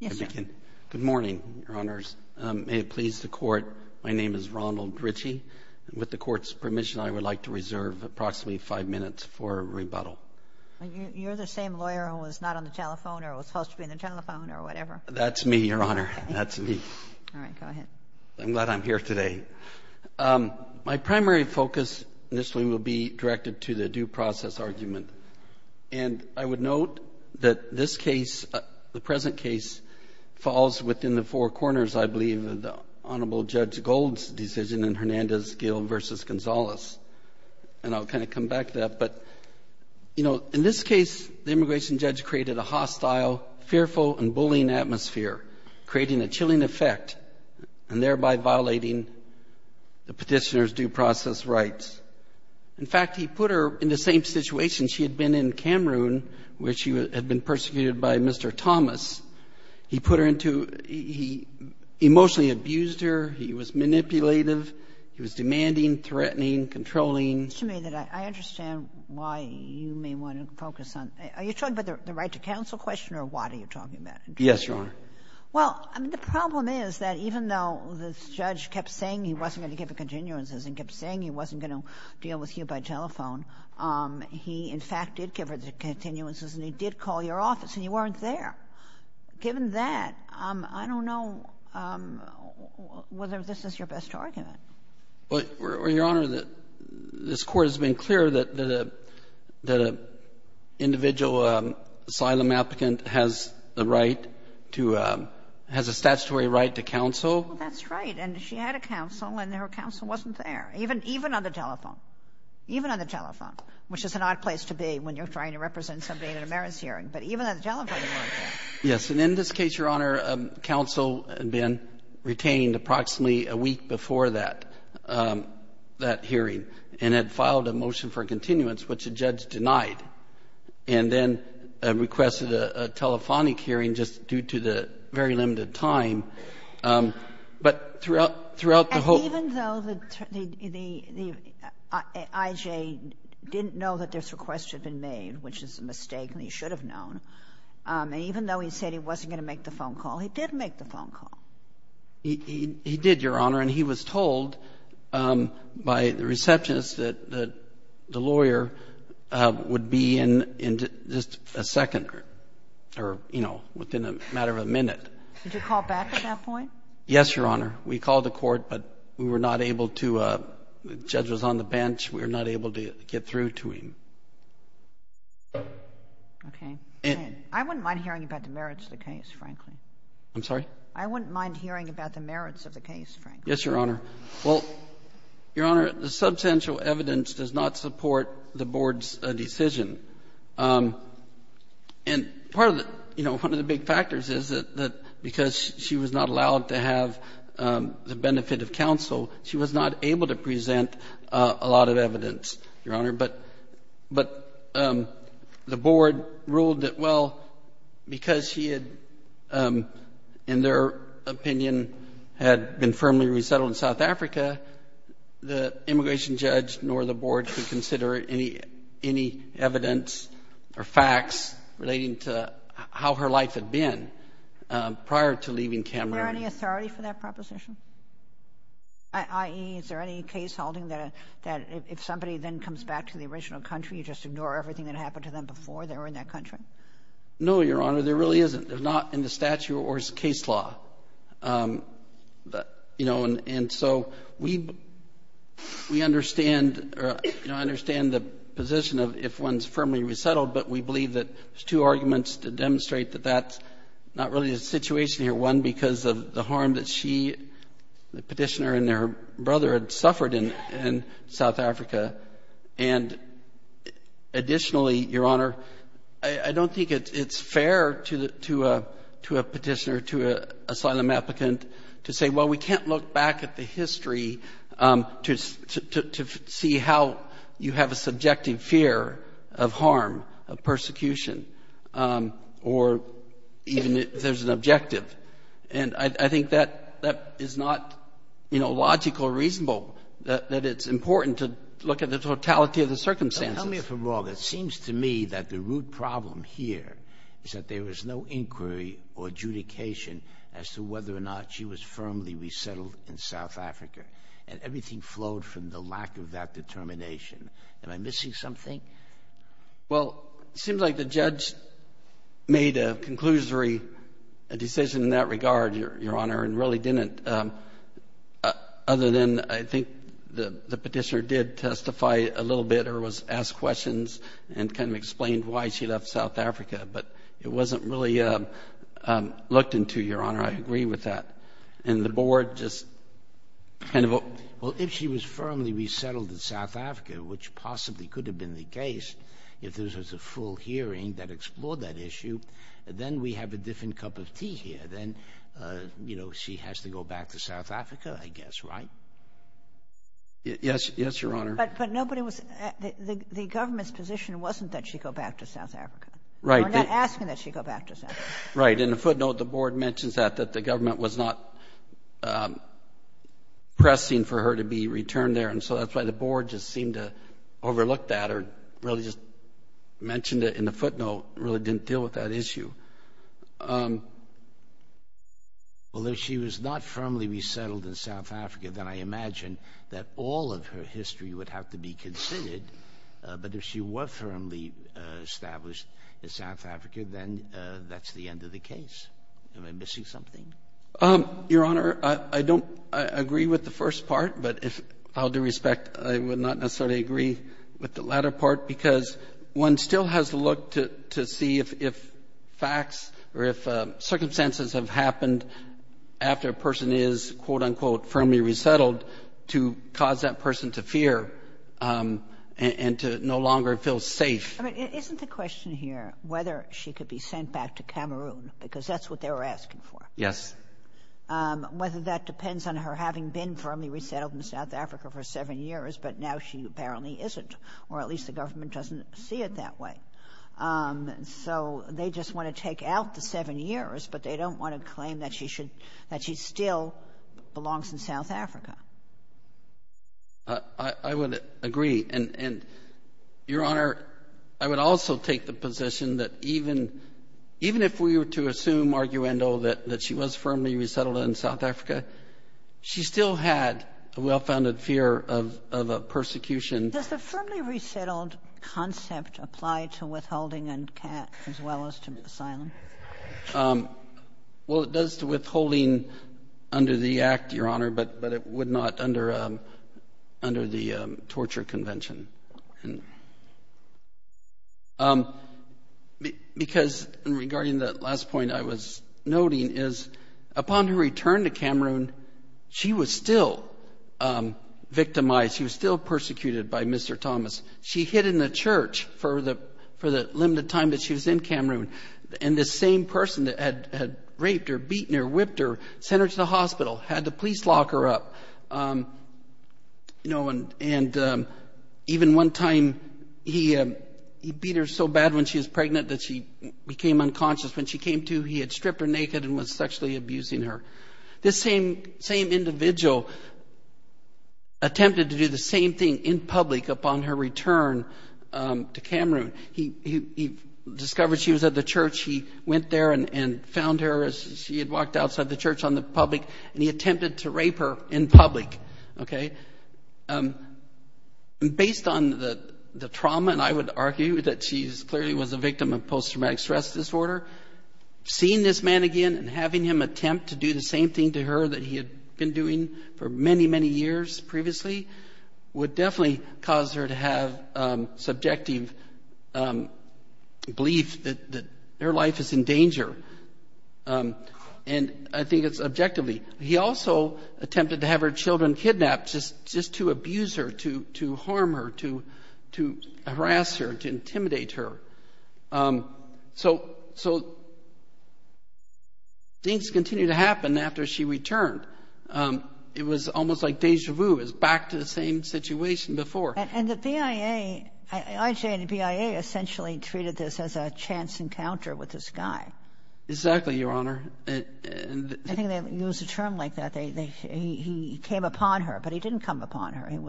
Good morning, Your Honors. May it please the Court, my name is Ronald Ritchie. With the Court's permission, I would like to reserve approximately five minutes for a rebuttal. You're the same lawyer who was not on the telephone or was supposed to be on the telephone or whatever. That's me, Your Honor. That's me. All right. Go ahead. I'm glad I'm here today. My primary focus initially will be directed to the due process argument. And I would note that this case, the present case, falls within the four corners, I believe, of the Honorable Judge Gold's decision in Hernandez-Gill v. Gonzalez. And I'll kind of come back to that. But, you know, in this case, the immigration judge created a hostile, fearful, and bullying atmosphere, creating a chilling effect and thereby violating the petitioner's due process rights. In fact, he put her in the same situation. She had been in Cameroon where she had been persecuted by Mr. Thomas. He put her into—he emotionally abused her. He was manipulative. He was demanding, threatening, controlling. It seems to me that I understand why you may want to focus on— are you talking about the right to counsel question or what are you talking about? Yes, Your Honor. Well, I mean, the problem is that even though this judge kept saying he wasn't going to give the continuances and kept saying he wasn't going to deal with you by telephone, he, in fact, did give her the continuances and he did call your office and you weren't there. Given that, I don't know whether this is your best argument. Well, Your Honor, this Court has been clear that an individual asylum applicant has the right to—has a statutory right to counsel. Well, that's right. And she had a counsel and her counsel wasn't there, even on the telephone, even on the telephone, which is an odd place to be when you're trying to represent somebody at a merits hearing. But even on the telephone, you weren't there. Yes. And in this case, Your Honor, counsel had been retained approximately a week before that hearing and had filed a motion for continuance, which the judge denied, and then requested a telephonic hearing just due to the very limited time. But throughout the whole— And even though the IJ didn't know that this request had been made, which is a mistake and he should have known, even though he said he wasn't going to make the phone call, he did make the phone call. He did, Your Honor. And he was told by the receptionist that the lawyer would be in just a second or, you know, within a matter of a minute. Did you call back at that point? Yes, Your Honor. We called the court, but we were not able to—the judge was on the bench. We were not able to get through to him. Okay. I wouldn't mind hearing about the merits of the case, frankly. I'm sorry? I wouldn't mind hearing about the merits of the case, frankly. Yes, Your Honor. Well, Your Honor, the substantial evidence does not support the Board's decision. And part of the—you know, one of the big factors is that because she was not allowed to have the benefit of counsel, she was not able to present a lot of evidence, Your Honor. But the Board ruled that, well, because she had, in their opinion, had been firmly resettled in South Africa, the immigration judge nor the Board could consider any evidence or facts relating to how her life had been prior to leaving Cameroon. Is there any authority for that proposition? I.e., is there any case holding that if somebody then comes back to the original country, you just ignore everything that happened to them before they were in that country? No, Your Honor. There really isn't. It's not in the statute or the case law. You know, and so we understand the position of if one's firmly resettled, but we believe that there's two arguments to demonstrate that that's not really the situation here. One, because of the harm that she, the petitioner, and her brother had suffered in South Africa. And additionally, Your Honor, I don't think it's fair to a petitioner, to an asylum applicant, to say, well, we can't look back at the history to see how you have a subjective fear of harm, of persecution, or even if there's an objective. And I think that that is not, you know, logical or reasonable, that it's important to look at the totality of the circumstances. Tell me if I'm wrong. It seems to me that the root problem here is that there was no inquiry or adjudication as to whether or not she was firmly resettled in South Africa, and everything flowed from the lack of that determination. Am I missing something? Well, it seems like the judge made a conclusionary decision in that regard, Your Honor, and really didn't, other than I think the petitioner did testify a little bit or was asked questions and kind of explained why she left South Africa. But it wasn't really looked into, Your Honor. I agree with that. And the board just kind of opened. Well, if she was firmly resettled in South Africa, which possibly could have been the case, if there was a full hearing that explored that issue, then we have a different cup of tea here. Then, you know, she has to go back to South Africa, I guess, right? Yes, Your Honor. But nobody was at the government's position wasn't that she go back to South Africa. Right. In the footnote, the board mentions that, that the government was not pressing for her to be returned there. And so that's why the board just seemed to overlook that or really just mentioned it in the footnote, really didn't deal with that issue. Well, if she was not firmly resettled in South Africa, then I imagine that all of her history would have to be considered. But if she was firmly established in South Africa, then that's the end of the case. Am I missing something? Your Honor, I don't agree with the first part. But if I'll do respect, I would not necessarily agree with the latter part because one still has to look to see if facts or if circumstances have happened after a person is, quote, unquote, firmly resettled, to cause that person to fear and to no longer feel safe. I mean, isn't the question here whether she could be sent back to Cameroon because that's what they were asking for? Yes. Whether that depends on her having been firmly resettled in South Africa for seven years, but now she apparently isn't, or at least the government doesn't see it that way. So they just want to take out the seven years, but they don't want to claim that she still belongs in South Africa. I would agree. And, Your Honor, I would also take the position that even if we were to assume arguendo that she was firmly resettled in South Africa, she still had a well-founded fear of persecution. Does the firmly resettled concept apply to withholding and as well as to asylum? Well, it does to withholding under the Act, Your Honor, but it would not under the torture convention. Because regarding that last point I was noting is upon her return to Cameroon, she was still victimized. She was still persecuted by Mr. Thomas. She hid in a church for the limited time that she was in Cameroon, and the same person that had raped her, beaten her, whipped her, sent her to the hospital, had the police lock her up. And even one time he beat her so bad when she was pregnant that she became unconscious. When she came to, he had stripped her naked and was sexually abusing her. This same individual attempted to do the same thing in public upon her return to Cameroon. He discovered she was at the church. He went there and found her as she had walked outside the church on the public, and he attempted to rape her in public. Based on the trauma, and I would argue that she clearly was a victim of post-traumatic stress disorder, seeing this man again and having him attempt to do the same thing to her that he had been doing for many, many years previously would definitely cause her to have subjective belief that her life is in danger. And I think it's objectively. He also attempted to have her children kidnapped just to abuse her, to harm her, to harass her, to intimidate her. So things continued to happen after she returned. It was almost like déjà vu. It was back to the same situation before. And the BIA, I'd say the BIA essentially treated this as a chance encounter with this guy. Exactly, Your Honor. I think they use a term like that. He came upon her, but he didn't come upon her.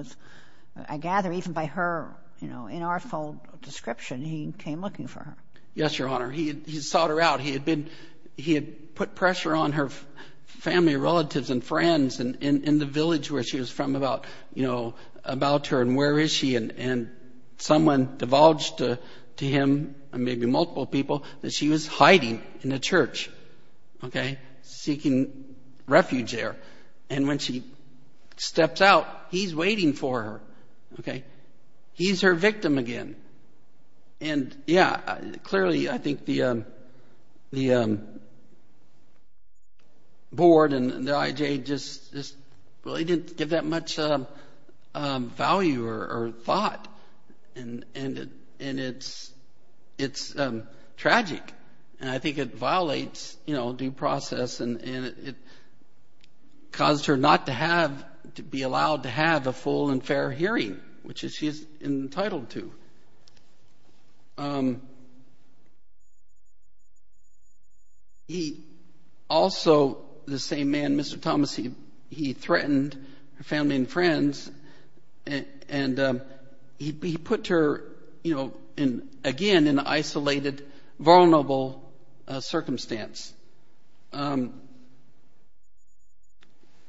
I gather even by her inartful description, he came looking for her. Yes, Your Honor. He sought her out. He had put pressure on her family, relatives, and friends in the village where she was from about her and where is she. And someone divulged to him, maybe multiple people, that she was hiding in a church, seeking refuge there. And when she steps out, he's waiting for her. He's her victim again. And yeah, clearly I think the board and the IJ just really didn't give that much value or thought. And it's tragic. And I think it violates due process. And it caused her not to be allowed to have a full and fair hearing, which she's entitled to. Also, the same man, Mr. Thomas, he threatened her family and friends. And he put her again in an isolated, vulnerable circumstance. And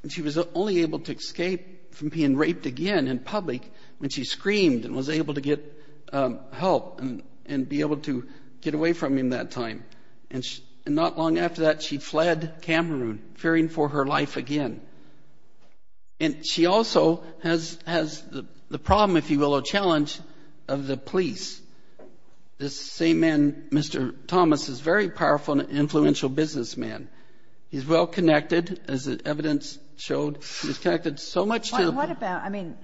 she was only able to escape from being raped again in public when she screamed and was able to get help and be able to get away from him that time. And not long after that, she fled Cameroon, fearing for her life again. And she also has the problem, if you will, a challenge of the police. This same man, Mr. Thomas, is a very powerful and influential businessman. He's well-connected, as the evidence showed. He's connected so much to the- What about, I mean,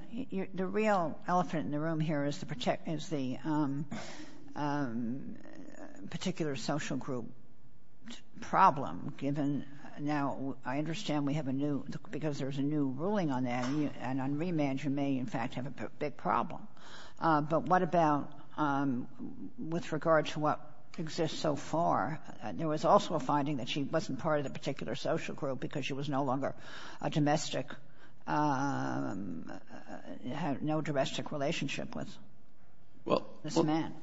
the real elephant in the room here is the particular social group problem, given now-I understand we have a new-because there's a new ruling on that. And on remand, you may, in fact, have a big problem. But what about with regard to what exists so far? There was also a finding that she wasn't part of the particular social group because she was no longer a domestic-had no domestic relationship with this man.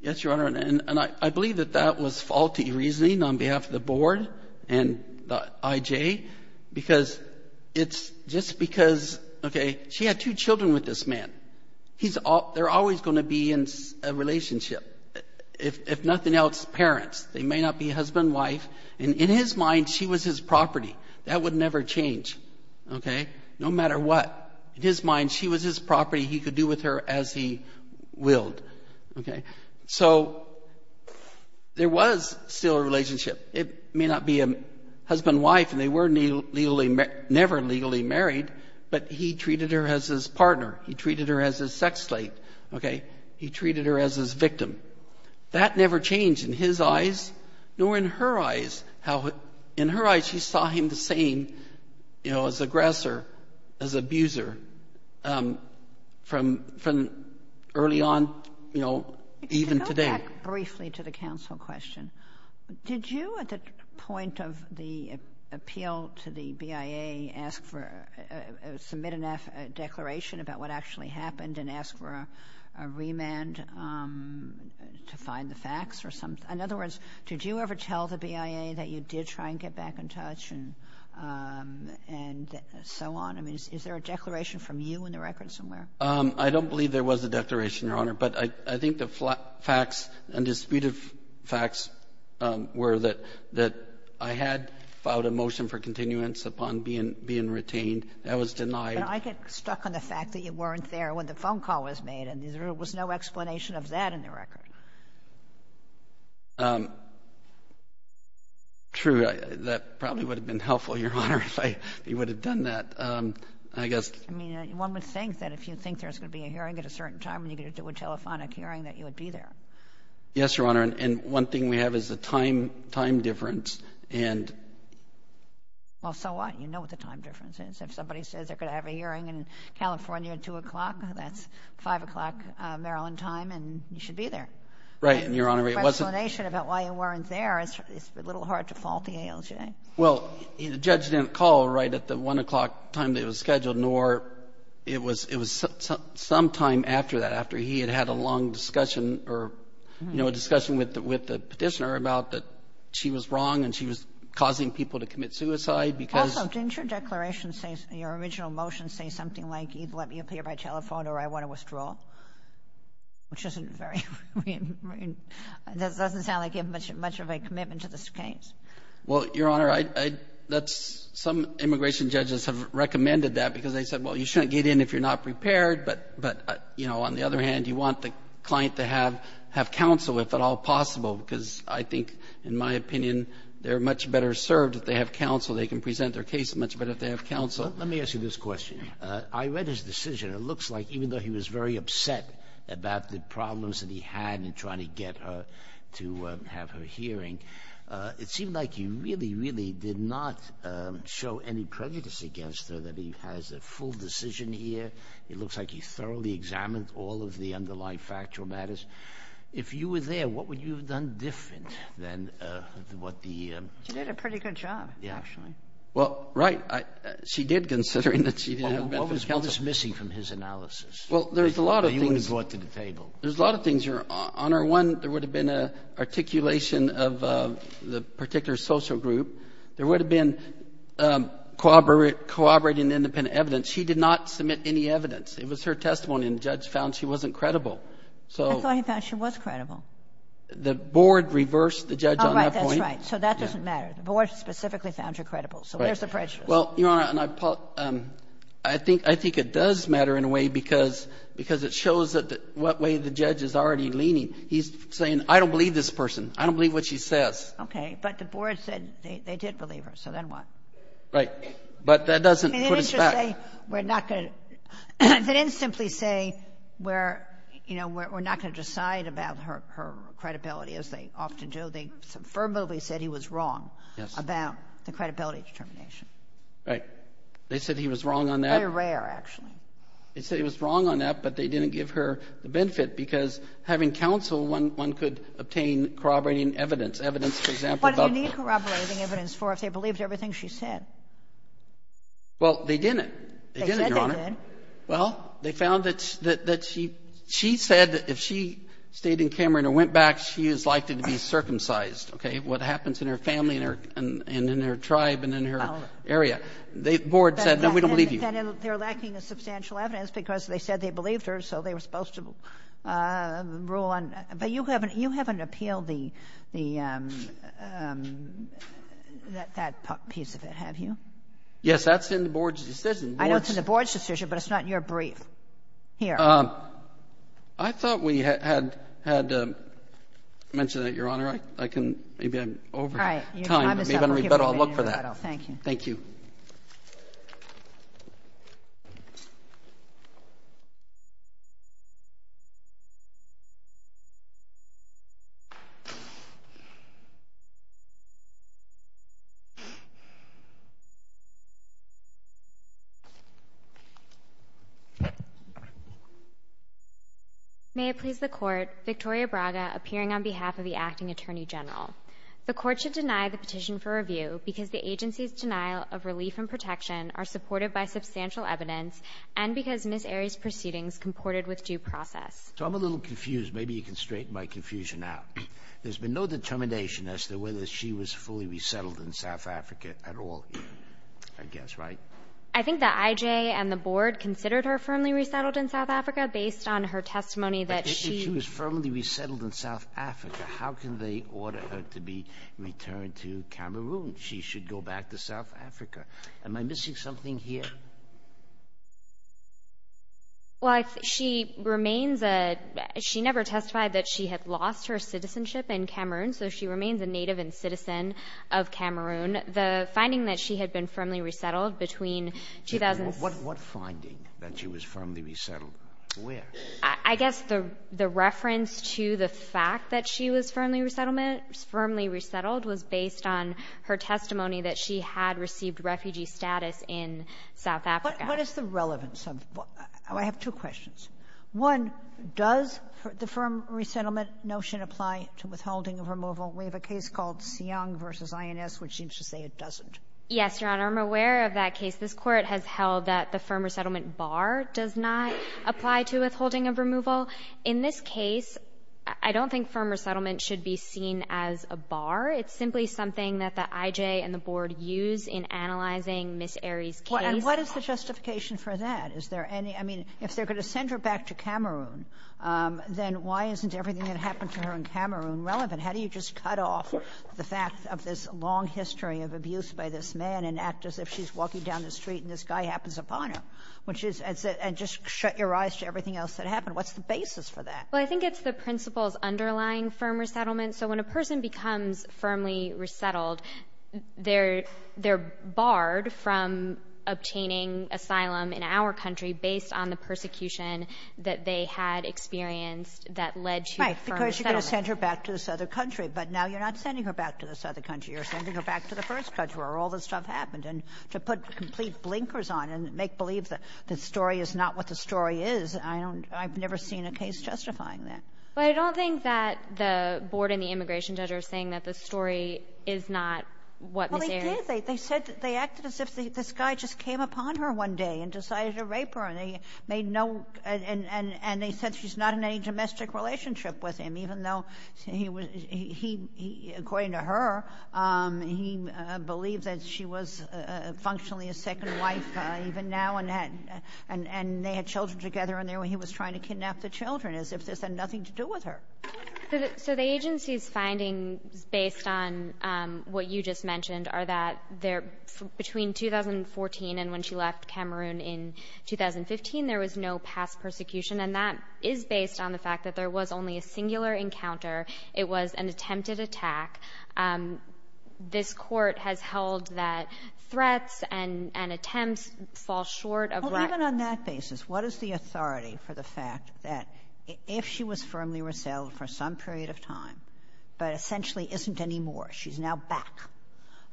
Yes, Your Honor. And I believe that that was faulty reasoning on behalf of the board and the IJ, because it's just because, okay, she had two children with this man. They're always going to be in a relationship. If nothing else, parents. They may not be husband and wife. And in his mind, she was his property. That would never change, okay, no matter what. In his mind, she was his property. He could do with her as he willed, okay. So there was still a relationship. It may not be a husband-wife, and they were never legally married, but he treated her as his partner. He treated her as his sex slate, okay. He treated her as his victim. That never changed in his eyes, nor in her eyes. In her eyes, she saw him the same, you know, as aggressor, as abuser, from early on, you know, even today. To go back briefly to the counsel question, did you at the point of the appeal to the BIA submit a declaration about what actually happened and ask for a remand to find the facts? In other words, did you ever tell the BIA that you did try and get back in touch and so on? I mean, is there a declaration from you in the record somewhere? I don't believe there was a declaration, Your Honor, but I think the facts and disputed facts were that I had filed a motion for continuance upon being retained. That was denied. But I get stuck on the fact that you weren't there when the phone call was made, and there was no explanation of that in the record. True. That probably would have been helpful, Your Honor, if you would have done that. I mean, one would think that if you think there's going to be a hearing at a certain time and you get to do a telephonic hearing, that you would be there. Yes, Your Honor, and one thing we have is the time difference. Well, so what? You know what the time difference is. If somebody says they're going to have a hearing in California at 2 o'clock, that's 5 o'clock Maryland time, and you should be there. Right, Your Honor. Explanation about why you weren't there is a little hard to fault the ALJ. Well, the judge didn't call right at the 1 o'clock time that it was scheduled, nor it was sometime after that, after he had had a long discussion or, you know, a discussion with the petitioner about that she was wrong and she was causing people to commit suicide. Also, didn't your declaration say, your original motion, didn't say something like, either let me appear by telephone or I want to withdraw, which doesn't sound like you have much of a commitment to this case. Well, Your Honor, some immigration judges have recommended that because they said, well, you shouldn't get in if you're not prepared, but, you know, on the other hand, you want the client to have counsel, if at all possible, because I think, in my opinion, they're much better served if they have counsel. They can present their case much better if they have counsel. Let me ask you this question. I read his decision. It looks like even though he was very upset about the problems that he had in trying to get her to have her hearing, it seemed like you really, really did not show any prejudice against her that he has a full decision here. It looks like he thoroughly examined all of the underlying factual matters. If you were there, what would you have done different than what the— She did a pretty good job, actually. Well, right. She did, considering that she didn't have benefit counsel. What was missing from his analysis? Well, there's a lot of things. He would have brought to the table. There's a lot of things, Your Honor. One, there would have been an articulation of the particular social group. There would have been corroborating independent evidence. She did not submit any evidence. It was her testimony, and the judge found she wasn't credible. I thought he found she was credible. The board reversed the judge on that point. Oh, right. That's right. So that doesn't matter. The board specifically found her credible. So where's the prejudice? Well, Your Honor, I think it does matter in a way because it shows what way the judge is already leaning. He's saying, I don't believe this person. I don't believe what she says. Okay. But the board said they did believe her, so then what? Right. But that doesn't put us back. They didn't just say we're not going to— They didn't simply say we're not going to decide about her credibility, as they often do. They affirmatively said he was wrong about the credibility determination. Right. They said he was wrong on that. Very rare, actually. They said he was wrong on that, but they didn't give her the benefit because having counsel, one could obtain corroborating evidence, evidence, for example— What do you need corroborating evidence for if they believed everything she said? Well, they didn't. They didn't, Your Honor. They said they did. Well, they found that she said that if she stayed in Cameron or went back, she is likely to be circumcised, okay, what happens in her family and in her tribe and in her area. The board said, no, we don't believe you. They're lacking the substantial evidence because they said they believed her, so they were supposed to rule on that. But you haven't appealed that piece of it, have you? Yes, that's in the board's decision. I know it's in the board's decision, but it's not in your brief. Here. I thought we had mentioned that, Your Honor. Maybe I'm over time, but maybe I'll look for that. Thank you. Thank you. May it please the Court, Victoria Braga appearing on behalf of the Acting Attorney General. The Court should deny the petition for review because the agency's denial of relief and protection are supported by substantial evidence and because Ms. Arie's proceedings comported with due process. So I'm a little confused. Maybe you can straighten my confusion out. There's been no determination as to whether she was fully resettled in South Africa at all, I guess, right? I think that I.J. and the board considered her firmly resettled in South Africa based on her testimony that she But if she was firmly resettled in South Africa, how can they order her to be returned to Cameroon? She should go back to South Africa. Am I missing something here? Well, she remains a ñ she never testified that she had lost her citizenship in Cameroon, so she remains a native and citizen of Cameroon. The finding that she had been firmly resettled between ñ What finding that she was firmly resettled? Where? I guess the reference to the fact that she was firmly resettled was based on her testimony that she had received refugee status in South Africa. What is the relevance of ñ I have two questions. One, does the firm resettlement notion apply to withholding of removal? We have a case called Seong v. INS, which seems to say it doesn't. Yes, Your Honor, I'm aware of that case. This court has held that the firm resettlement bar does not apply to withholding of removal. In this case, I don't think firm resettlement should be seen as a bar. It's simply something that the I.J. and the board use in analyzing Ms. Arey's case. And what is the justification for that? Is there any ñ I mean, if they're going to send her back to Cameroon, then why isn't everything that happened to her in Cameroon relevant? How do you just cut off the fact of this long history of abuse by this man and act as if she's walking down the street and this guy happens upon her? And just shut your eyes to everything else that happened. What's the basis for that? Well, I think it's the principle's underlying firm resettlement. So when a person becomes firmly resettled, they're barred from obtaining asylum in our country based on the persecution that they had experienced that led to firm resettlement. Because you're going to send her back to this other country. But now you're not sending her back to this other country. You're sending her back to the first country where all this stuff happened. And to put complete blinkers on and make believe that the story is not what the story is, I don't ñ I've never seen a case justifying that. But I don't think that the board and the immigration judge are saying that the story is not what Ms. Arey ñ Well, they did. They said ñ they acted as if this guy just came upon her one day and decided to rape her. And they made no ñ and they said she's not in any domestic relationship with him. Even though he was ñ he ñ according to her, he believed that she was functionally his second wife even now. And they had children together and he was trying to kidnap the children as if this had nothing to do with her. So the agency's findings based on what you just mentioned are that there ñ between 2014 and when she left Cameroon in 2015, there was no past persecution. And that is based on the fact that there was only a singular encounter. It was an attempted attack. This court has held that threats and attempts fall short of ñ Well, even on that basis, what is the authority for the fact that if she was firmly resettled for some period of time but essentially isn't anymore, she's now back,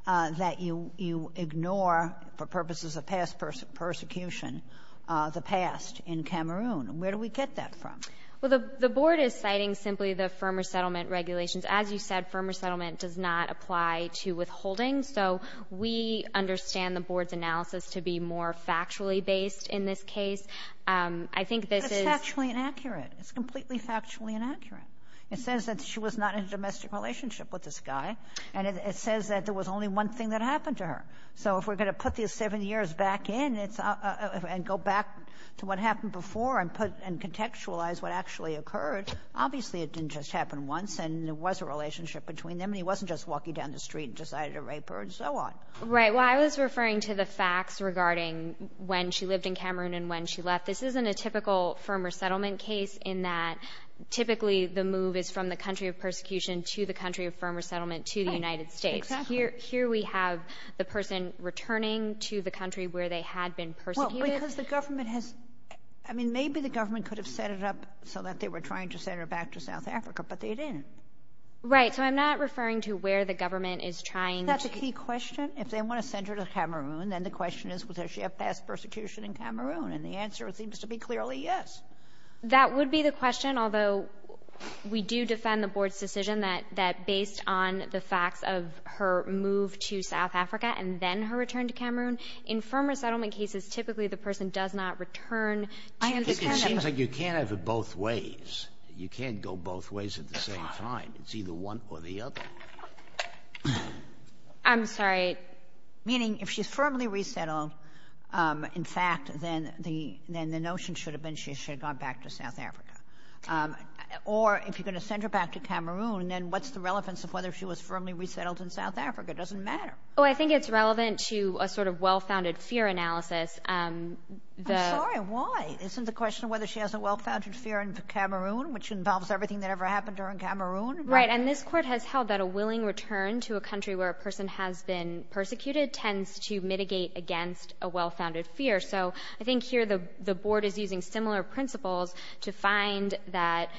that you ignore, for purposes of past persecution, the past in Cameroon? And where do we get that from? Well, the board is citing simply the firmer settlement regulations. As you said, firmer settlement does not apply to withholding. So we understand the board's analysis to be more factually based in this case. I think this is ñ But it's factually inaccurate. It's completely factually inaccurate. It says that she was not in a domestic relationship with this guy. And it says that there was only one thing that happened to her. So if we're going to put these seven years back in and go back to what happened before and put ñ and contextualize what actually occurred, obviously it didn't just happen once and there was a relationship between them and he wasn't just walking down the street and decided to rape her and so on. Right. Well, I was referring to the facts regarding when she lived in Cameroon and when she left. This isn't a typical firmer settlement case in that typically the move is from the country of persecution to the country of firmer settlement to the United States. Exactly. Here we have the person returning to the country where they had been persecuted. Well, because the government has ñ I mean, maybe the government could have set it up so that they were trying to send her back to South Africa, but they didn't. Right. So I'm not referring to where the government is trying to ñ Isn't that the key question? If they want to send her to Cameroon, then the question is, would she have passed persecution in Cameroon? And the answer seems to be clearly yes. That would be the question, although we do defend the board's decision that based on the facts of her move to South Africa and then her return to Cameroon, in firmer settlement cases, typically the person does not return to the country. It seems like you can't have it both ways. You can't go both ways at the same time. It's either one or the other. I'm sorry. Meaning if she's firmly resettled, in fact, then the notion should have been she should have gone back to South Africa. Or if you're going to send her back to Cameroon, then what's the relevance of whether she was firmly resettled in South Africa? It doesn't matter. Oh, I think it's relevant to a sort of well-founded fear analysis. I'm sorry, why? Isn't the question whether she has a well-founded fear in Cameroon, which involves everything that ever happened to her in Cameroon? Right. And this court has held that a willing return to a country where a person has been persecuted tends to mitigate against a well-founded fear. So I think here the board is using similar principles to find that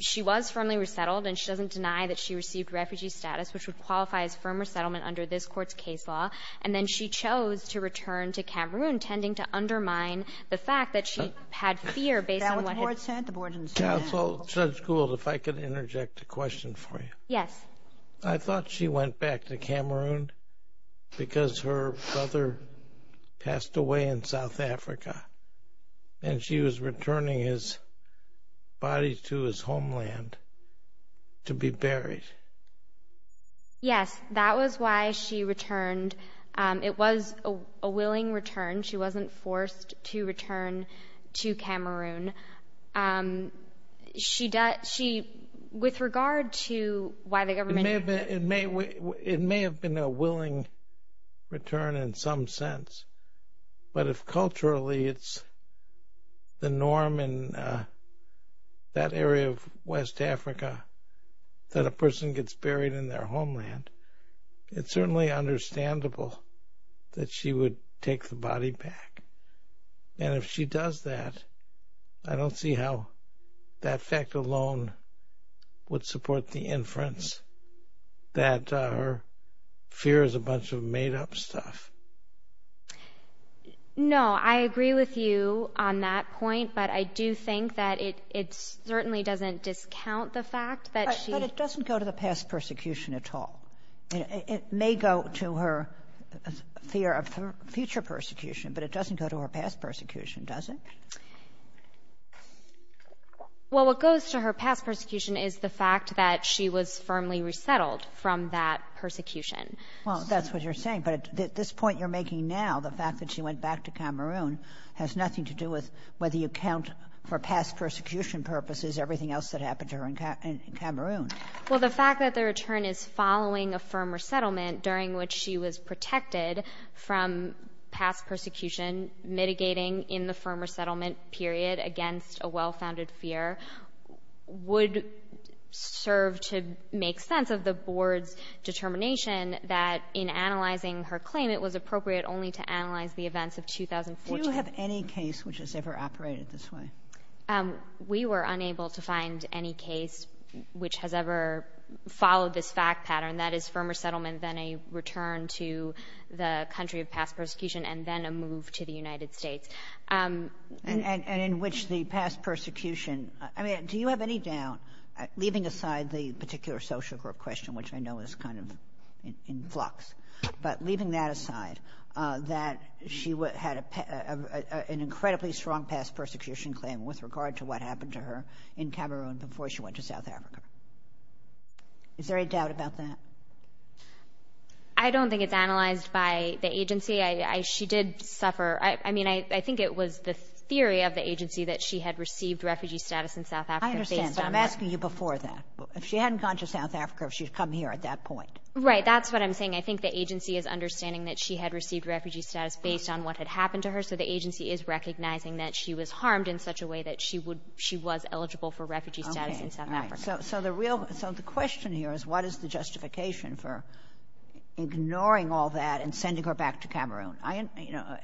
she was firmly resettled and she doesn't deny that she received refugee status, which would qualify as firm resettlement under this court's case law. And then she chose to return to Cameroon, tending to undermine the fact that she had fear based on what the board said. Counsel, Judge Gould, if I could interject a question for you. Yes. I thought she went back to Cameroon because her brother passed away in South Africa and she was returning his body to his homeland to be buried. Yes. That was why she returned. It was a willing return. She wasn't forced to return to Cameroon. With regard to why the government— It may have been a willing return in some sense, but if culturally it's the norm in that area of West Africa that a person gets buried in their homeland, it's certainly understandable that she would take the body back. And if she does that, I don't see how that fact alone would support the inference that her fear is a bunch of made-up stuff. No, I agree with you on that point, but I do think that it certainly doesn't discount the fact that she— But it doesn't go to the past persecution at all. It may go to her fear of future persecution, but it doesn't go to her past persecution, does it? Well, what goes to her past persecution is the fact that she was firmly resettled from that persecution. Well, that's what you're saying. But this point you're making now, the fact that she went back to Cameroon, has nothing to do with whether you count for past persecution purposes everything else that happened to her in Cameroon. Well, the fact that the return is following a firm resettlement during which she was protected from past persecution, mitigating in the firm resettlement period against a well-founded fear, would serve to make sense of the Board's determination that in analyzing her claim, it was appropriate only to analyze the events of 2014. Do you have any case which has ever operated this way? We were unable to find any case which has ever followed this fact pattern, that is, firmer settlement, then a return to the country of past persecution, and then a move to the United States. And in which the past persecution—I mean, do you have any doubt, leaving aside the particular social group question, which I know is kind of in flux, but leaving that aside, that she had an incredibly strong past persecution claim with regard to what happened to her in Cameroon before she went to South Africa? Is there any doubt about that? I don't think it's analyzed by the agency. She did suffer—I mean, I think it was the theory of the agency that she had received refugee status in South Africa based on— I understand, but I'm asking you before that. If she hadn't gone to South Africa, if she'd come here at that point. Right, that's what I'm saying. I think the agency is understanding that she had received refugee status based on what had happened to her, so the agency is recognizing that she was harmed in such a way that she was eligible for refugee status in South Africa. So the question here is, what is the justification for ignoring all that and sending her back to Cameroon?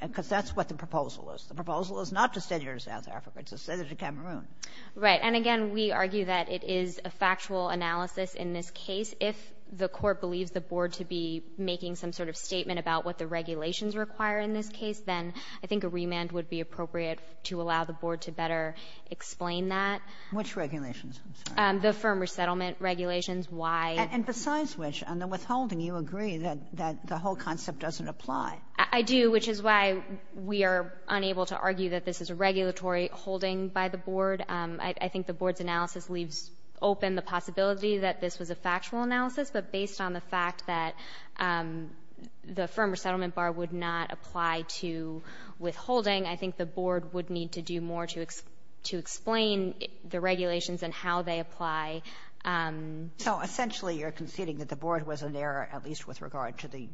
Because that's what the proposal is. The proposal is not to send her to South Africa. It's to send her to Cameroon. Right, and again, we argue that it is a factual analysis in this case. If the court believes the board to be making some sort of statement about what the regulations require in this case, then I think a remand would be appropriate to allow the board to better explain that. Which regulations? The firm resettlement regulations, why— And besides which, on the withholding, you agree that the whole concept doesn't apply. I do, which is why we are unable to argue that this is a regulatory holding by the board. I think the board's analysis leaves open the possibility that this was a factual analysis, but based on the fact that the firm resettlement bar would not apply to withholding, I think the board would need to do more to explain the regulations and how they apply. So essentially you're conceding that the board was in error, at least with regard to the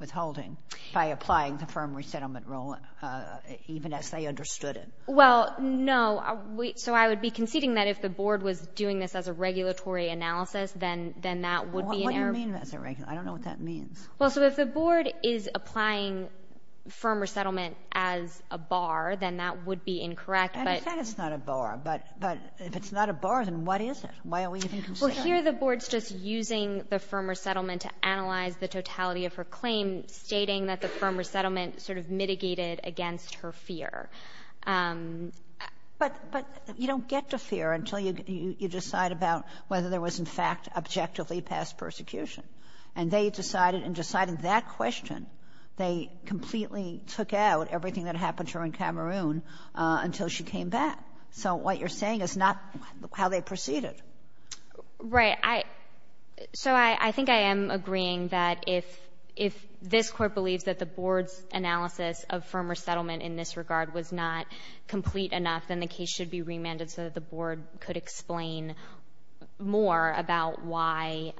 withholding, by applying the firm resettlement rule even as they understood it. Well, no. So I would be conceding that if the board was doing this as a regulatory analysis, then that would be an error. What do you mean as a—I don't know what that means. Well, so if the board is applying firm resettlement as a bar, then that would be incorrect, but— Well, here the board's just using the firm resettlement to analyze the totality of her claim, stating that the firm resettlement sort of mitigated against her fear. But you don't get to fear until you decide about whether there was in fact objectively past persecution. And they decided, in deciding that question, they completely took out everything that happened to her in Cameroon until she came back. So what you're saying is not how they proceeded. Right. So I think I am agreeing that if this Court believes that the board's analysis of firm resettlement in this regard was not complete enough, then the case should be remanded so that the board could explain more about why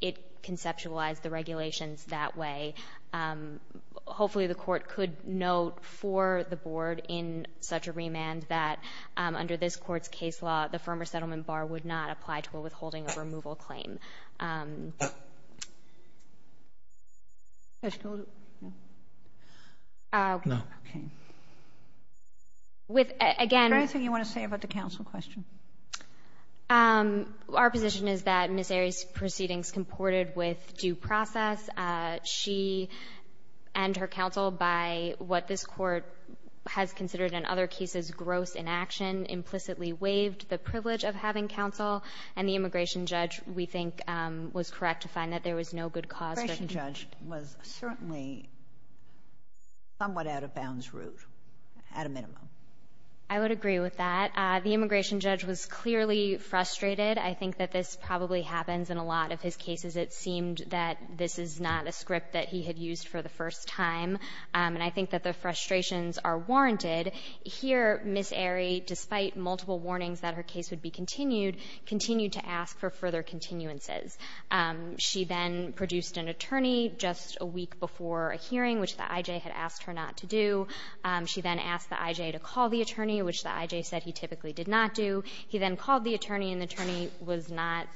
it conceptualized the regulations that way. Hopefully the court could note for the board in such a remand that under this court's case law, the firm resettlement bar would not apply to a withholding of removal claim. Is there anything you want to say about the counsel question? Our position is that Ms. Arie's proceedings comported with due process. She and her counsel, by what this court has considered in other cases gross inaction, implicitly waived the privilege of having counsel. And the immigration judge, we think, was correct to find that there was no good cause for— The immigration judge was certainly somewhat out of bounds route, at a minimum. I would agree with that. The immigration judge was clearly frustrated. I think that this probably happens in a lot of his cases. It seemed that this is not a script that he had used for the first time. And I think that the frustrations are warranted. Here, Ms. Arie, despite multiple warnings that her case would be continued, continued to ask for further continuances. She then produced an attorney just a week before a hearing, which the I.J. had asked her not to do. She then asked the I.J. to call the attorney, which the I.J. said he typically did not do. He then called the attorney, and the attorney was not,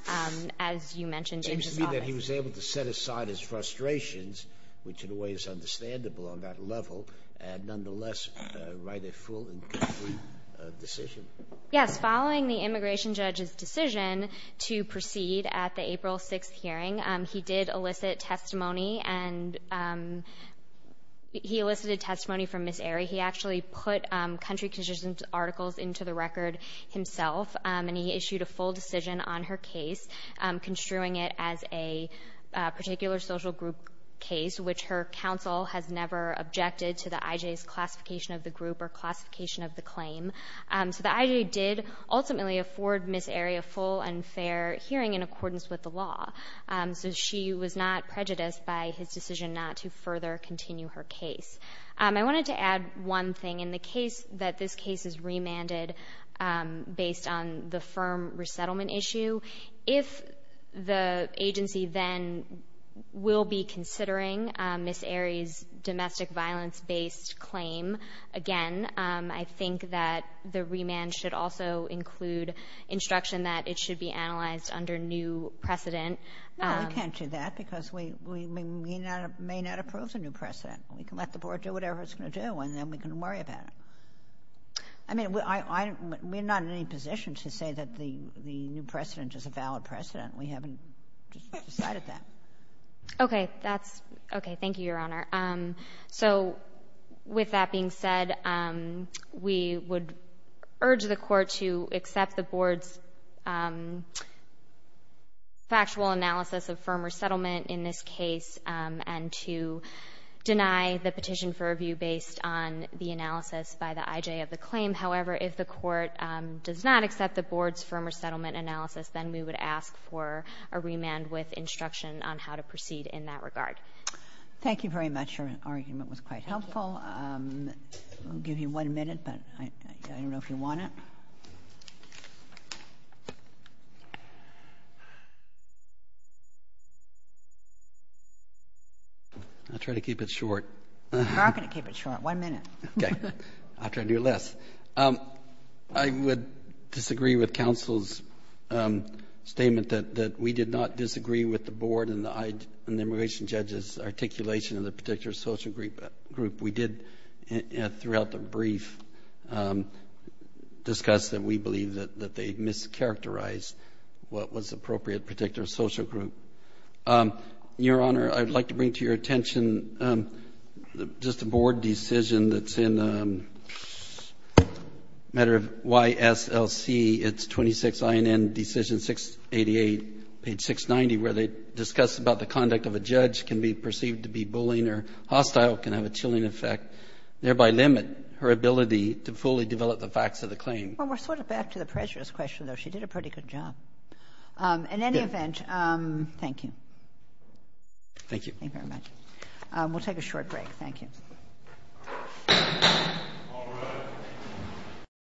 as you mentioned, in his office. It seems to me that he was able to set aside his frustrations, which in a way is understandable on that level, and nonetheless write a full and complete decision. Yes, following the immigration judge's decision to proceed at the April 6th hearing, he did elicit testimony, and he elicited testimony from Ms. Arie. He actually put country constitution articles into the record himself, and he issued a full decision on her case, construing it as a particular social group case, which her counsel has never objected to the I.J.'s classification of the group or classification of the claim. So the I.J. did ultimately afford Ms. Arie a full and fair hearing in accordance with the law. So she was not prejudiced by his decision not to further continue her case. I wanted to add one thing. In the case that this case is remanded based on the firm resettlement issue, if the agency then will be considering Ms. Arie's domestic violence-based claim again, I think that the remand should also include instruction that it should be analyzed under new precedent. No, we can't do that because we may not approve the new precedent. We can let the Board do whatever it's going to do, and then we can worry about it. I mean, we're not in any position to say that the new precedent is a valid precedent. We haven't decided that. Okay. That's okay. Thank you, Your Honor. So with that being said, we would urge the Court to accept the Board's factual analysis of firm resettlement in this case and to deny the petition for review based on the analysis by the IJ of the claim. However, if the Court does not accept the Board's firm resettlement analysis, then we would ask for a remand with instruction on how to proceed in that regard. Thank you very much. Your argument was quite helpful. I'll give you one minute, but I don't know if you want it. I'll try to keep it short. You are going to keep it short. One minute. Okay. I'll try to do less. I would disagree with counsel's statement that we did not disagree with the Board and the immigration judge's articulation of the particular social group. We did, throughout the brief, discuss that we believe that they mischaracterized what was appropriate particular social group. Your Honor, I'd like to bring to your attention just a Board decision that's in matter of YSLC. It's 26 INN Decision 688, page 690, where they discuss about the conduct of a judge can be perceived to be bullying or hostile, can have a chilling effect, thereby limit her ability to fully develop the facts of the claim. Well, we're sort of back to the prejudice question, though. She did a pretty good job. In any event, thank you. Thank you. Thank you very much. We'll take a short break. Thank you.